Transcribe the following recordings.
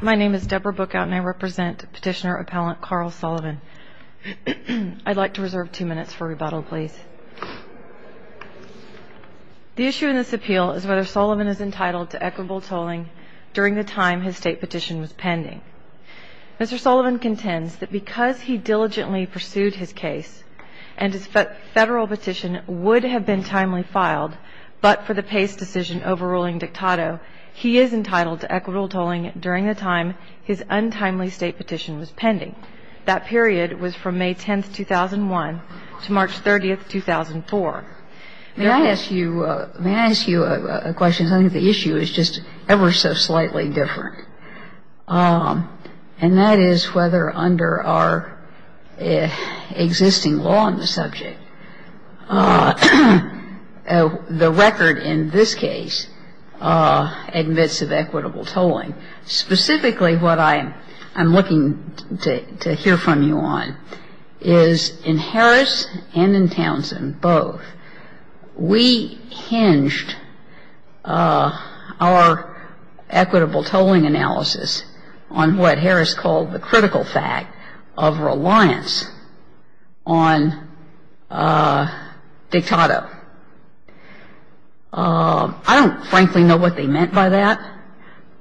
My name is Deborah Bookout and I represent Petitioner Appellant Carl Sullivan. I'd like to reserve two minutes for rebuttal, please. The issue in this appeal is whether Sullivan is entitled to equitable tolling during the time his state petition was pending. Mr. Sullivan contends that because he diligently pursued his case and his federal petition would have been timely filed, but for the Pace decision overruling Dictato, he is entitled to equitable tolling during the time his untimely state petition was pending. That period was from May 10th, 2001 to March 30th, 2004. May I ask you a question? I think the issue is just ever so slightly different. And that is whether under our existing law on the subject, the record in this case admits of equitable tolling. Specifically what I'm looking to hear from you on is in Harris and in Townsend both, we hinged our equitable tolling analysis on what Harris called the critical fact of reliance on Dictato. I don't frankly know what they meant by that,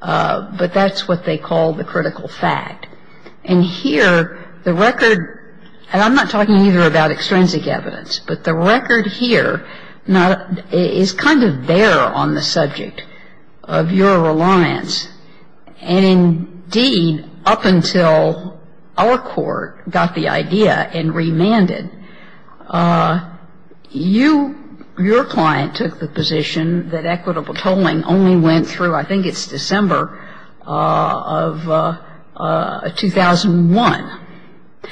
but that's what they called the critical fact. And here the record, and I'm not talking either about extrinsic evidence, but the record here is kind of there on the subject of your reliance. And indeed, up until our court got the idea and remanded, you, your client, took the position that equitable tolling only went through, I think it's December of 2001.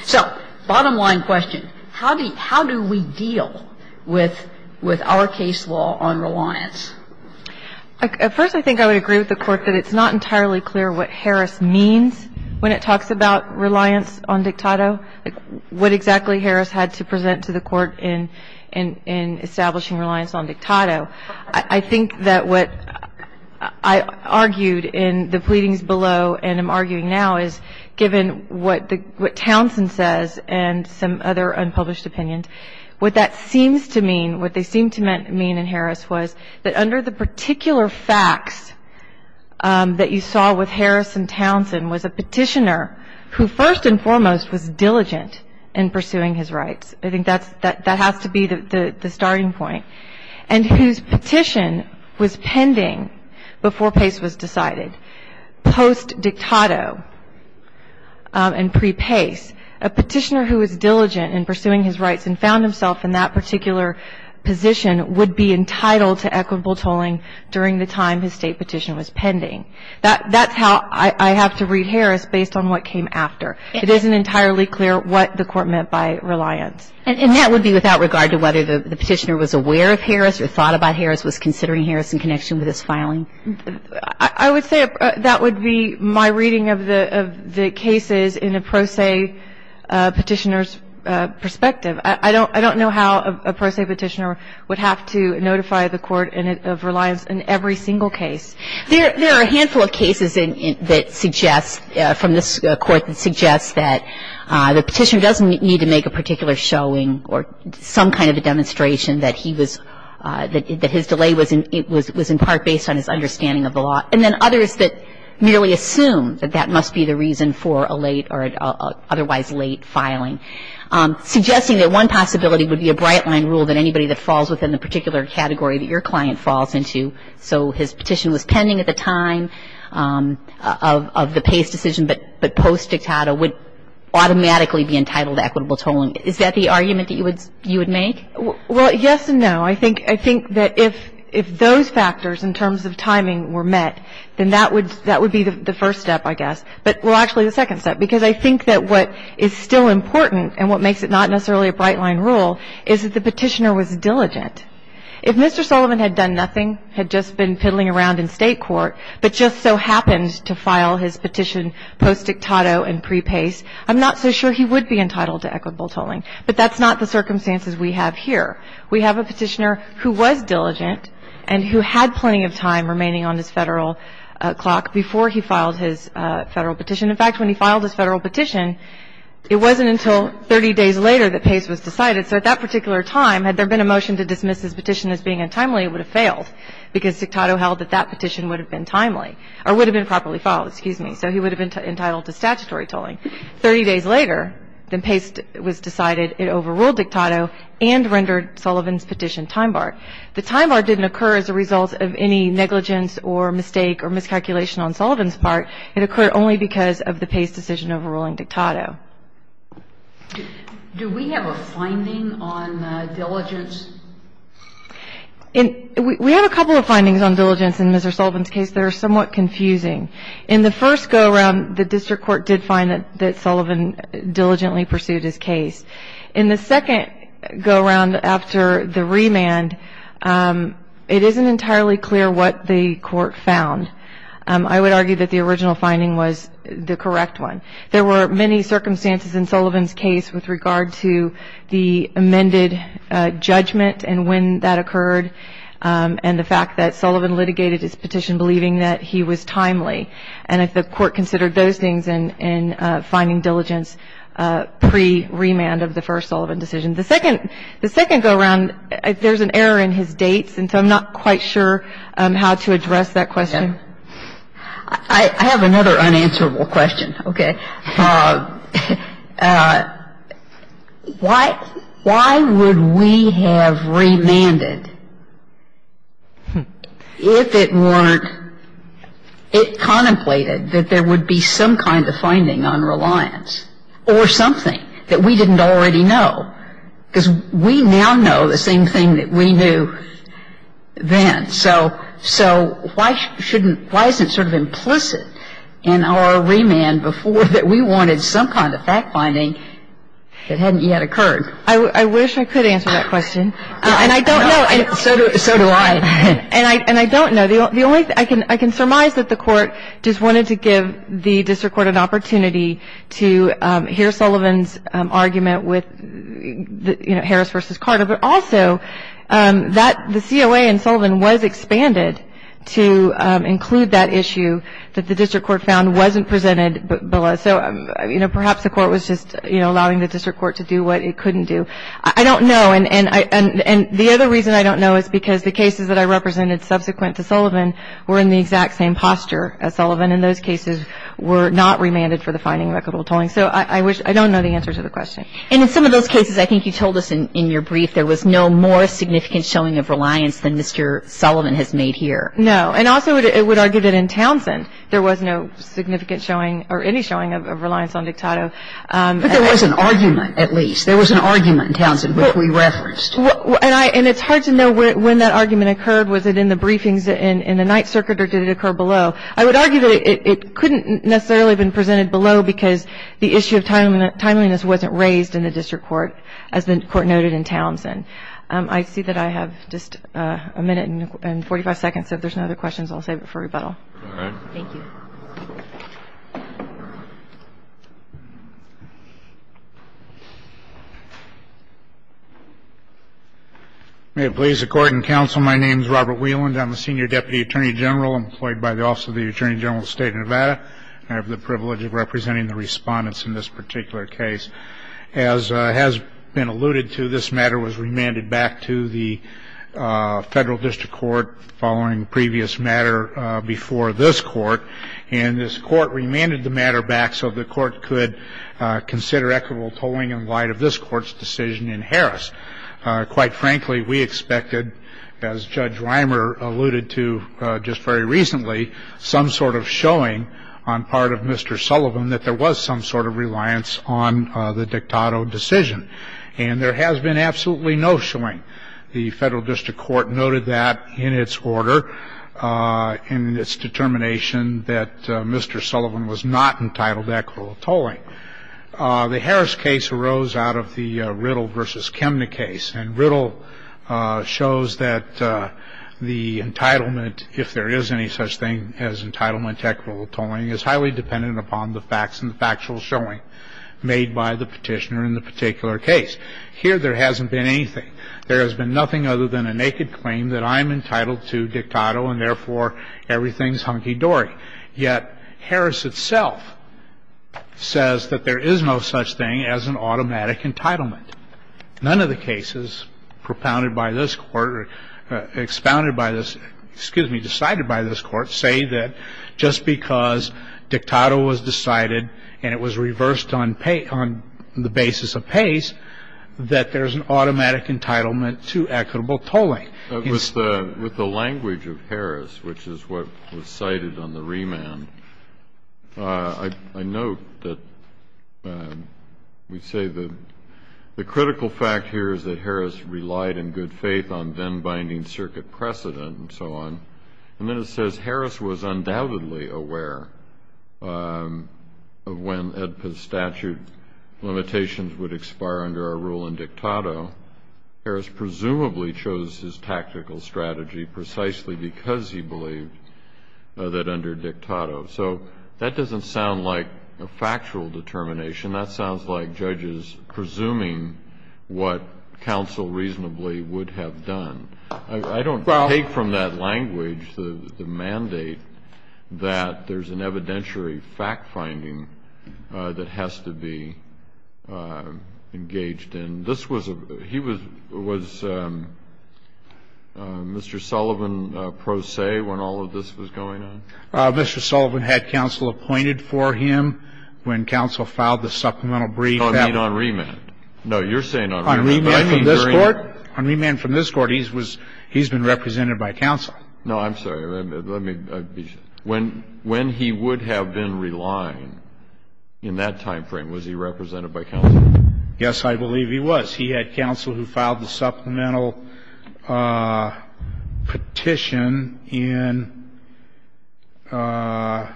So bottom line question, how do we deal with our case law on reliance? At first I think I would agree with the Court that it's not entirely clear what Harris means when it talks about reliance on Dictato, what exactly Harris had to present to the Court in establishing reliance on Dictato. I think that what I argued in the pleadings below and am arguing now is given what Townsend says and some other unpublished opinions, what that seems to mean, what they seem to mean in Harris was that under the particular facts that you saw with Harris and Townsend was a petitioner who first and foremost was diligent in pursuing his rights. I think that has to be the starting point. And whose petition was pending before Pace was decided. Post-Dictato and pre-Pace, a petitioner who was diligent in pursuing his rights and found himself in that particular position would be entitled to equitable tolling during the time his State petition was pending. That's how I have to read Harris based on what came after. It isn't entirely clear what the Court meant by reliance. And that would be without regard to whether the petitioner was aware of Harris or thought about Harris, was considering Harris in connection with this filing? I would say that would be my reading of the cases in a pro se petitioner's perspective. I don't know how a pro se petitioner would have to notify the Court of reliance in every single case. There are a handful of cases that suggest, from this Court, that the petitioner doesn't need to make a particular showing or some kind of a demonstration that his delay was in part based on his understanding of the law. And then others that merely assume that that must be the reason for a late or otherwise late filing. Suggesting that one possibility would be a bright line rule that anybody that falls within the particular category that your client falls into. So his petition was pending at the time of the Pace decision, but post dictata would automatically be entitled to equitable tolling. Is that the argument that you would make? Well, yes and no. I think that if those factors in terms of timing were met, then that would be the first step, I guess. Well, actually, the second step, because I think that what is still important and what makes it not necessarily a bright line rule is that the petitioner was diligent. If Mr. Sullivan had done nothing, had just been fiddling around in State court, but just so happened to file his petition post dictata and pre-Pace, I'm not so sure he would be entitled to equitable tolling. But that's not the circumstances we have here. We have a petitioner who was diligent and who had plenty of time remaining on his Federal clock before he filed his Federal petition. In fact, when he filed his Federal petition, it wasn't until 30 days later that Pace was decided. So at that particular time, had there been a motion to dismiss his petition as being untimely, it would have failed because dictato held that that petition would have been timely or would have been properly filed, excuse me. So he would have been entitled to statutory tolling. Thirty days later, then Pace was decided it overruled dictato and rendered Sullivan's petition time bar. The time bar didn't occur as a result of any negligence or mistake or miscalculation on Sullivan's part. It occurred only because of the Pace decision overruling dictato. Do we have a finding on diligence? We have a couple of findings on diligence in Mr. Sullivan's case that are somewhat confusing. In the first go-around, the district court did find that Sullivan diligently pursued his case. In the second go-around after the remand, it isn't entirely clear what the court found. I would argue that the original finding was the correct one. There were many circumstances in Sullivan's case with regard to the amended judgment and when that occurred and the fact that Sullivan litigated his petition believing that he was timely. And if the court considered those things in finding diligence pre-remand of the first Sullivan decision. The second go-around, there's an error in his dates, and so I'm not quite sure how to address that question. I have another unanswerable question. Okay. Why would we have remanded if it weren't, it contemplated that there would be some kind of finding on reliance or something that we didn't already know? Because we now know the same thing that we knew then. So why shouldn't, why isn't it sort of implicit in our remand before that we wanted some kind of fact finding that hadn't yet occurred? I wish I could answer that question. And I don't know. So do I. And I don't know. The only thing, I can surmise that the court just wanted to give the district court an opportunity to hear Sullivan's argument with, you know, Harris versus Carter, but also that the COA in Sullivan was expanded to include that issue that the district court found wasn't presented below. So, you know, perhaps the court was just, you know, allowing the district court to do what it couldn't do. I don't know. And the other reason I don't know is because the cases that I represented subsequent to Sullivan were in the exact same posture as Sullivan, and those cases were not remanded for the finding of equitable tolling. So I wish, I don't know the answer to the question. And in some of those cases, I think you told us in your brief, there was no more significant showing of reliance than Mr. Sullivan has made here. No. And also it would argue that in Townsend there was no significant showing or any showing of reliance on Dictato. But there was an argument at least. There was an argument in Townsend which we referenced. And it's hard to know when that argument occurred. Was it in the briefings in the Ninth Circuit or did it occur below? I would argue that it couldn't necessarily have been presented below because the issue of timeliness wasn't raised in the district court as the court noted in Townsend. I see that I have just a minute and 45 seconds, so if there's no other questions, I'll save it for rebuttal. All right. Thank you. May it please the Court and counsel, my name is Robert Wieland. I'm a senior deputy attorney general employed by the Office of the Attorney General of the State of Nevada. I have the privilege of representing the respondents in this particular case. As has been alluded to, this matter was remanded back to the federal district court following previous matter before this court. And this court remanded the matter back so the court could consider equitable tolling in light of this court's decision in Harris. Quite frankly, we expected, as Judge Rimer alluded to just very recently, some sort of showing on part of Mr. Sullivan that there was some sort of reliance on the dictato decision. And there has been absolutely no showing. The federal district court noted that in its order in its determination that Mr. Sullivan was not entitled to equitable tolling. The Harris case arose out of the Riddle v. Kemne case, and Riddle shows that the entitlement, if there is any such thing as entitlement to equitable tolling, is highly dependent upon the facts and the factual showing made by the petitioner in the particular case. Here there hasn't been anything. There has been nothing other than a naked claim that I'm entitled to dictato and, therefore, everything's hunky-dory. Yet Harris itself says that there is no such thing as an automatic entitlement. None of the cases propounded by this court or expounded by this ‑‑ excuse me, decided by this court, say that just because dictato was decided and it was reversed on the basis of pace, that there's an automatic entitlement to equitable tolling. With the language of Harris, which is what was cited on the remand, I note that we say that the critical fact here is that Harris relied in good faith on then binding circuit precedent and so on, and then it says Harris was undoubtedly aware of when EDPA's statute limitations would expire under our rule in dictato. Harris presumably chose his tactical strategy precisely because he believed that under dictato. So that doesn't sound like a factual determination. That sounds like judges presuming what counsel reasonably would have done. I don't take from that language the mandate that there's an evidentiary fact-finding that has to be engaged in. This was a ‑‑ he was ‑‑ was Mr. Sullivan pro se when all of this was going on? Mr. Sullivan had counsel appointed for him when counsel filed the supplemental brief. Oh, I mean on remand. No, you're saying on remand. On remand from this court. On remand from this court. He's been represented by counsel. No, I'm sorry. Let me ‑‑ when he would have been relying in that time frame, was he represented by counsel? Yes, I believe he was. He had counsel who filed the supplemental petition in ‑‑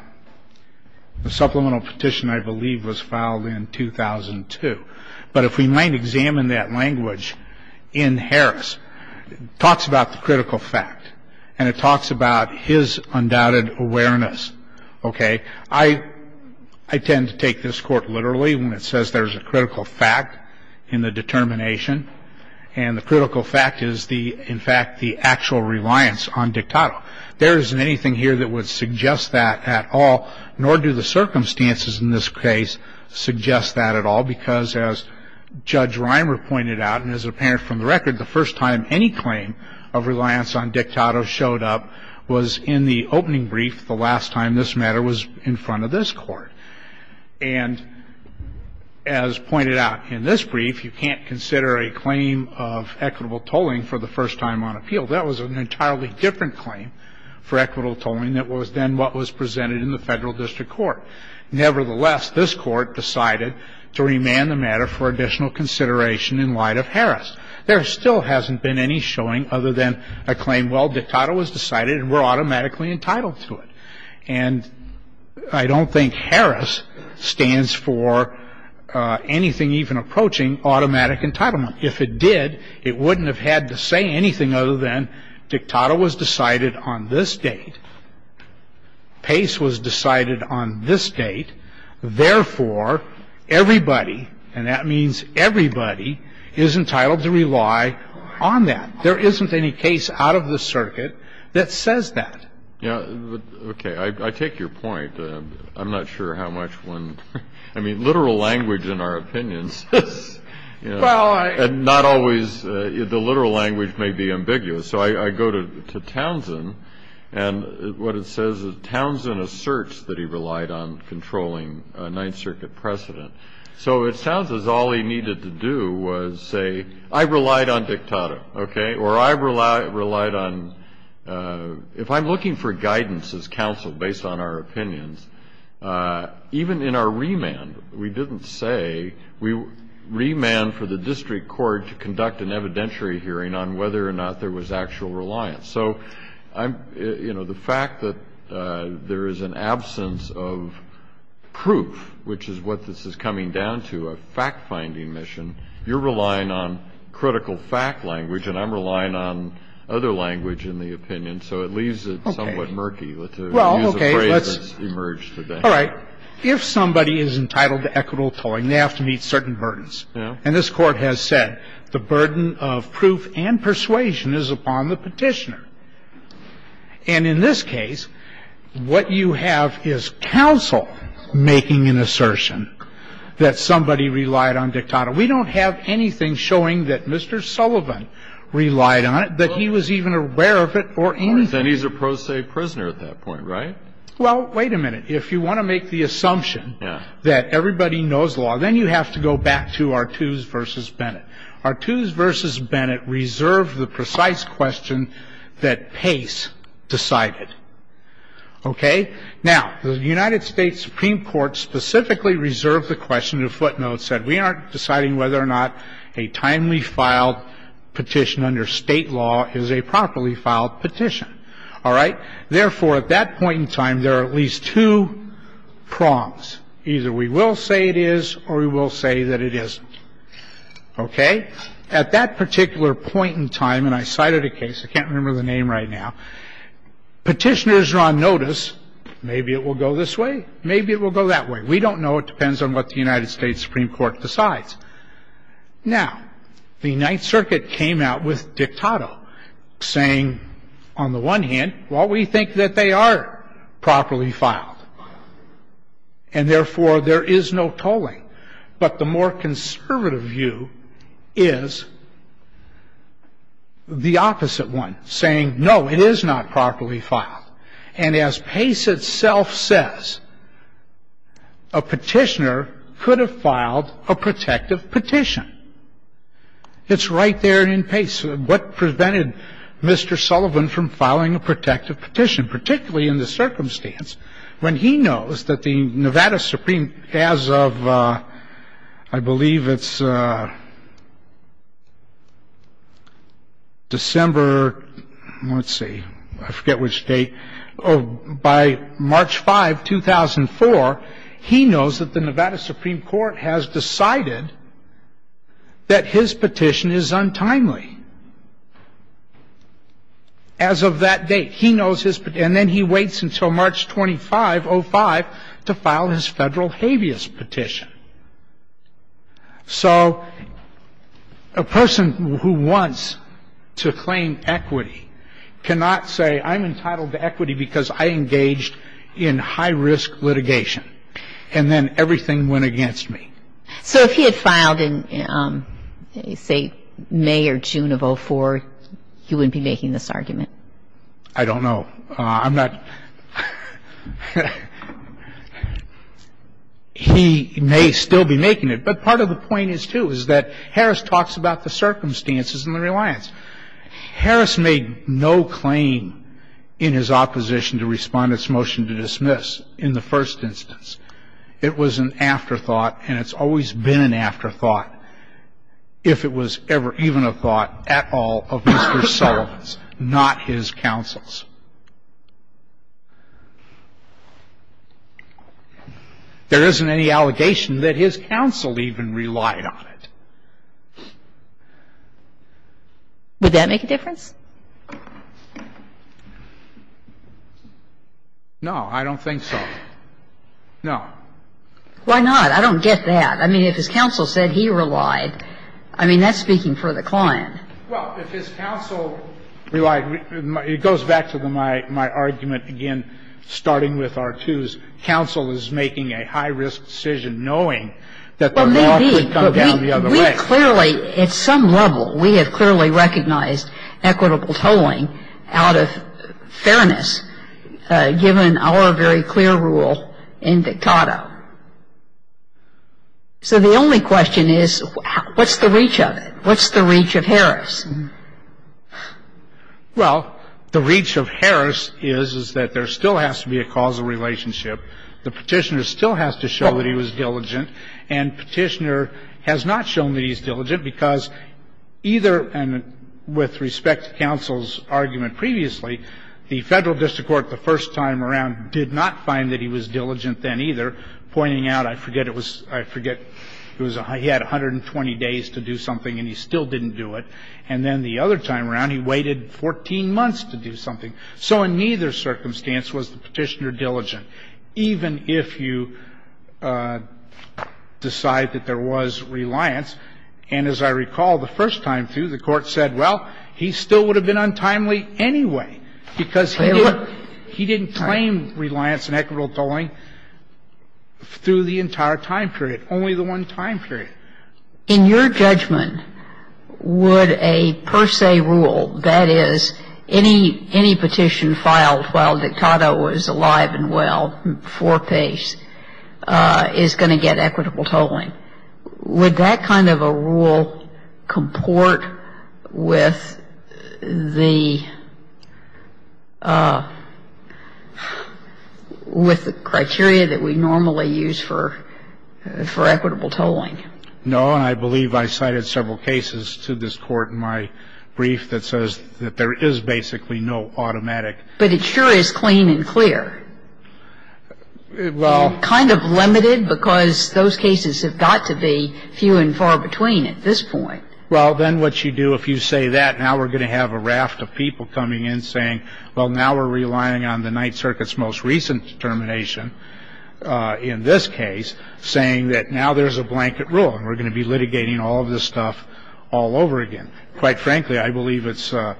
the supplemental petition, I believe, was filed in 2002. But if we might examine that language in Harris, it talks about the critical fact, and it talks about his undoubted awareness, okay? I tend to take this court literally when it says there's a critical fact in the determination, and the critical fact is the, in fact, the actual reliance on dictato. There isn't anything here that would suggest that at all, nor do the circumstances in this case suggest that at all, because as Judge Reimer pointed out, and as apparent from the record, the first time any claim of reliance on dictato showed up was in the opening brief, the last time this matter was in front of this court. And as pointed out in this brief, you can't consider a claim of equitable tolling for the first time on appeal. That was an entirely different claim for equitable tolling that was then what was presented in the Federal District Court. Nevertheless, this court decided to remand the matter for additional consideration in light of Harris. There still hasn't been any showing other than a claim, well, dictato was decided, and we're automatically entitled to it. And I don't think Harris stands for anything even approaching automatic entitlement. If it did, it wouldn't have had to say anything other than dictato was decided on this date, pace was decided on this date, therefore, everybody, and that means everybody, is entitled to rely on that. There isn't any case out of the circuit that says that. Yeah, okay. I take your point. I'm not sure how much one, I mean, literal language in our opinions is, you know, and not always the literal language may be ambiguous. So I go to Townsend, and what it says is Townsend asserts that he relied on controlling Ninth Circuit precedent. So it sounds as all he needed to do was say, I relied on dictato, okay, or I relied on, if I'm looking for guidance as counsel based on our opinions, even in our remand, we didn't say we remanded for the district court to conduct an evidentiary hearing on whether or not there was actual reliance. So I'm, you know, the fact that there is an absence of proof, which is what this is coming down to, a fact-finding mission, you're relying on critical fact language, and I'm relying on other language in the opinion. So it leaves it somewhat murky. Well, okay. All right. Now, if somebody is entitled to equitable tolling, they have to meet certain burdens. And this Court has said the burden of proof and persuasion is upon the Petitioner. And in this case, what you have is counsel making an assertion that somebody relied on dictato. We don't have anything showing that Mr. Sullivan relied on it, that he was even aware of it or anything. And he's a pro se prisoner at that point, right? Well, wait a minute. If you want to make the assumption that everybody knows law, then you have to go back to Artoos v. Bennett. Artoos v. Bennett reserved the precise question that Pace decided. Okay? Now, the United States Supreme Court specifically reserved the question to footnote, said we aren't deciding whether or not a timely filed petition under state law is a properly filed petition. All right? Therefore, at that point in time, there are at least two prongs. Either we will say it is or we will say that it isn't. Okay? At that particular point in time, and I cited a case, I can't remember the name right now. Petitioners are on notice. Maybe it will go this way. Maybe it will go that way. We don't know. It depends on what the United States Supreme Court decides. Now, the Ninth Circuit came out with dictato, saying, on the one hand, well, we think that they are properly filed, and therefore, there is no tolling. But the more conservative view is the opposite one, saying, no, it is not properly filed. And as Pace itself says, a petitioner could have filed a protective petition. It's right there in Pace. What prevented Mr. Sullivan from filing a protective petition, particularly in the circumstance when he knows that the Nevada Supreme, as of, I believe it's December, let's see. I forget which date. By March 5, 2004, he knows that the Nevada Supreme Court has decided that his petition is untimely. As of that date, he knows his, and then he waits until March 25, 05, to file his federal habeas petition. So a person who wants to claim equity cannot say, I'm entitled to equity because I engaged in high-risk litigation. And then everything went against me. So if he had filed in, say, May or June of 04, he wouldn't be making this argument. I don't know. I'm not. He may still be making it. But part of the point is, too, is that Harris talks about the circumstances and the reliance. Harris made no claim in his opposition to Respondent's motion to dismiss in the first instance. It was an afterthought, and it's always been an afterthought, if it was ever even a thought at all of Mr. Sullivan's, not his counsel's. There isn't any allegation that his counsel even relied on it. Would that make a difference? No, I don't think so. No. Why not? I don't get that. I mean, if his counsel said he relied, I mean, that's speaking for the client. Well, if his counsel relied, it goes back to my argument again, starting with R2's counsel is making a high-risk decision knowing that the law could come down the other way. Well, maybe. Well, I don't think that's a great deal of evidence, given our very clear rule in Dictato. So the only question is, what's the reach of it? What's the reach of Harris? Well, the reach of Harris is, is that there still has to be a causal relationship. The Petitioner still has to show that he was diligent. And Petitioner has not shown that he's diligent because either, and with respect to counsel's argument previously, the Federal District Court the first time around did not find that he was diligent then either, pointing out, I forget it was, I forget it was, he had 120 days to do something and he still didn't do it. And then the other time around, he waited 14 months to do something. So in neither circumstance was the Petitioner diligent. So he would have been an untimely decision. Even if you decide that there was reliance, and as I recall the first time through, the court said, well, he still would have been untimely anyway, because he didn't claim reliance and equitable tolling through the entire time period, only the one time period. In your judgment, would a per se rule, that is, any petition filed while Dictato was alive and well for peace, is going to get equitable tolling? Would that kind of a rule comport with the criteria that we normally use for equitable tolling? No. And I believe I cited several cases to this Court in my brief that says that there is basically no automatic. But it sure is clean and clear. Well. And kind of limited, because those cases have got to be few and far between at this point. Well, then what you do if you say that, now we're going to have a raft of people coming in saying, well, now we're relying on the Ninth Circuit's most recent determination in this case, saying that now there's a blanket rule and we're going to be litigating all of this stuff all over again. Quite frankly, I believe it's to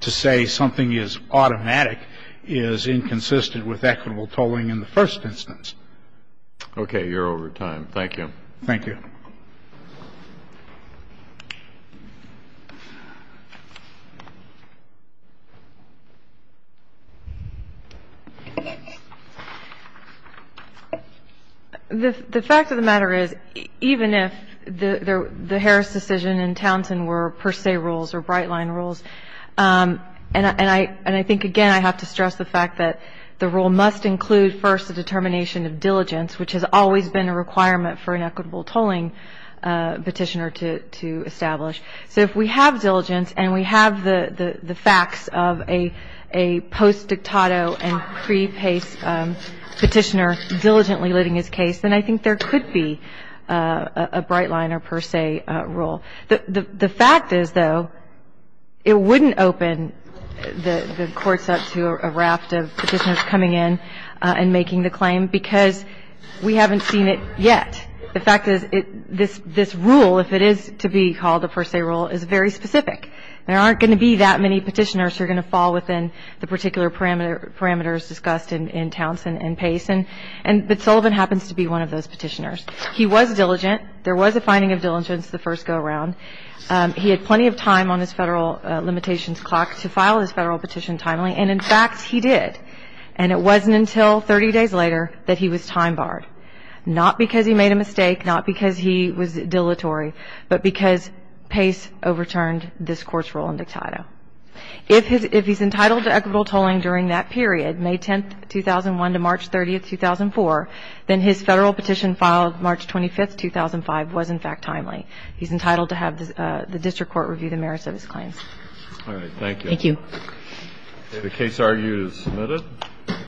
say something is automatic is inconsistent with equitable tolling in the first instance. Okay. You're over time. Thank you. Thank you. Thank you. The fact of the matter is, even if the Harris decision and Townsend were per se rules or bright-line rules, and I think, again, I have to stress the fact that the rule must include first the determination of diligence, which has always been a requirement for an equitable tolling petitioner to establish. So if we have diligence and we have the facts of a post-dictato and pre-pace petitioner diligently litigating his case, then I think there could be a bright-line or per se rule. The fact is, though, it wouldn't open the courts up to a raft of petitioners coming in and making the claim because we haven't seen it yet. The fact is, this rule, if it is to be called a per se rule, is very specific. There aren't going to be that many petitioners who are going to fall within the particular parameters discussed in Townsend and Pace. But Sullivan happens to be one of those petitioners. He was diligent. There was a finding of diligence the first go-around. He had plenty of time on his federal limitations clock to file his federal petition timely. And, in fact, he did. And it wasn't until 30 days later that he was time-barred, not because he made a mistake, not because he was dilatory, but because Pace overturned this Court's rule in dictato. If he's entitled to equitable tolling during that period, May 10, 2001, to March 30, 2004, then his federal petition filed March 25, 2005, was, in fact, timely. He's entitled to have the district court review the merits of his claim. All right. Thank you. Thank you. The case argued is submitted.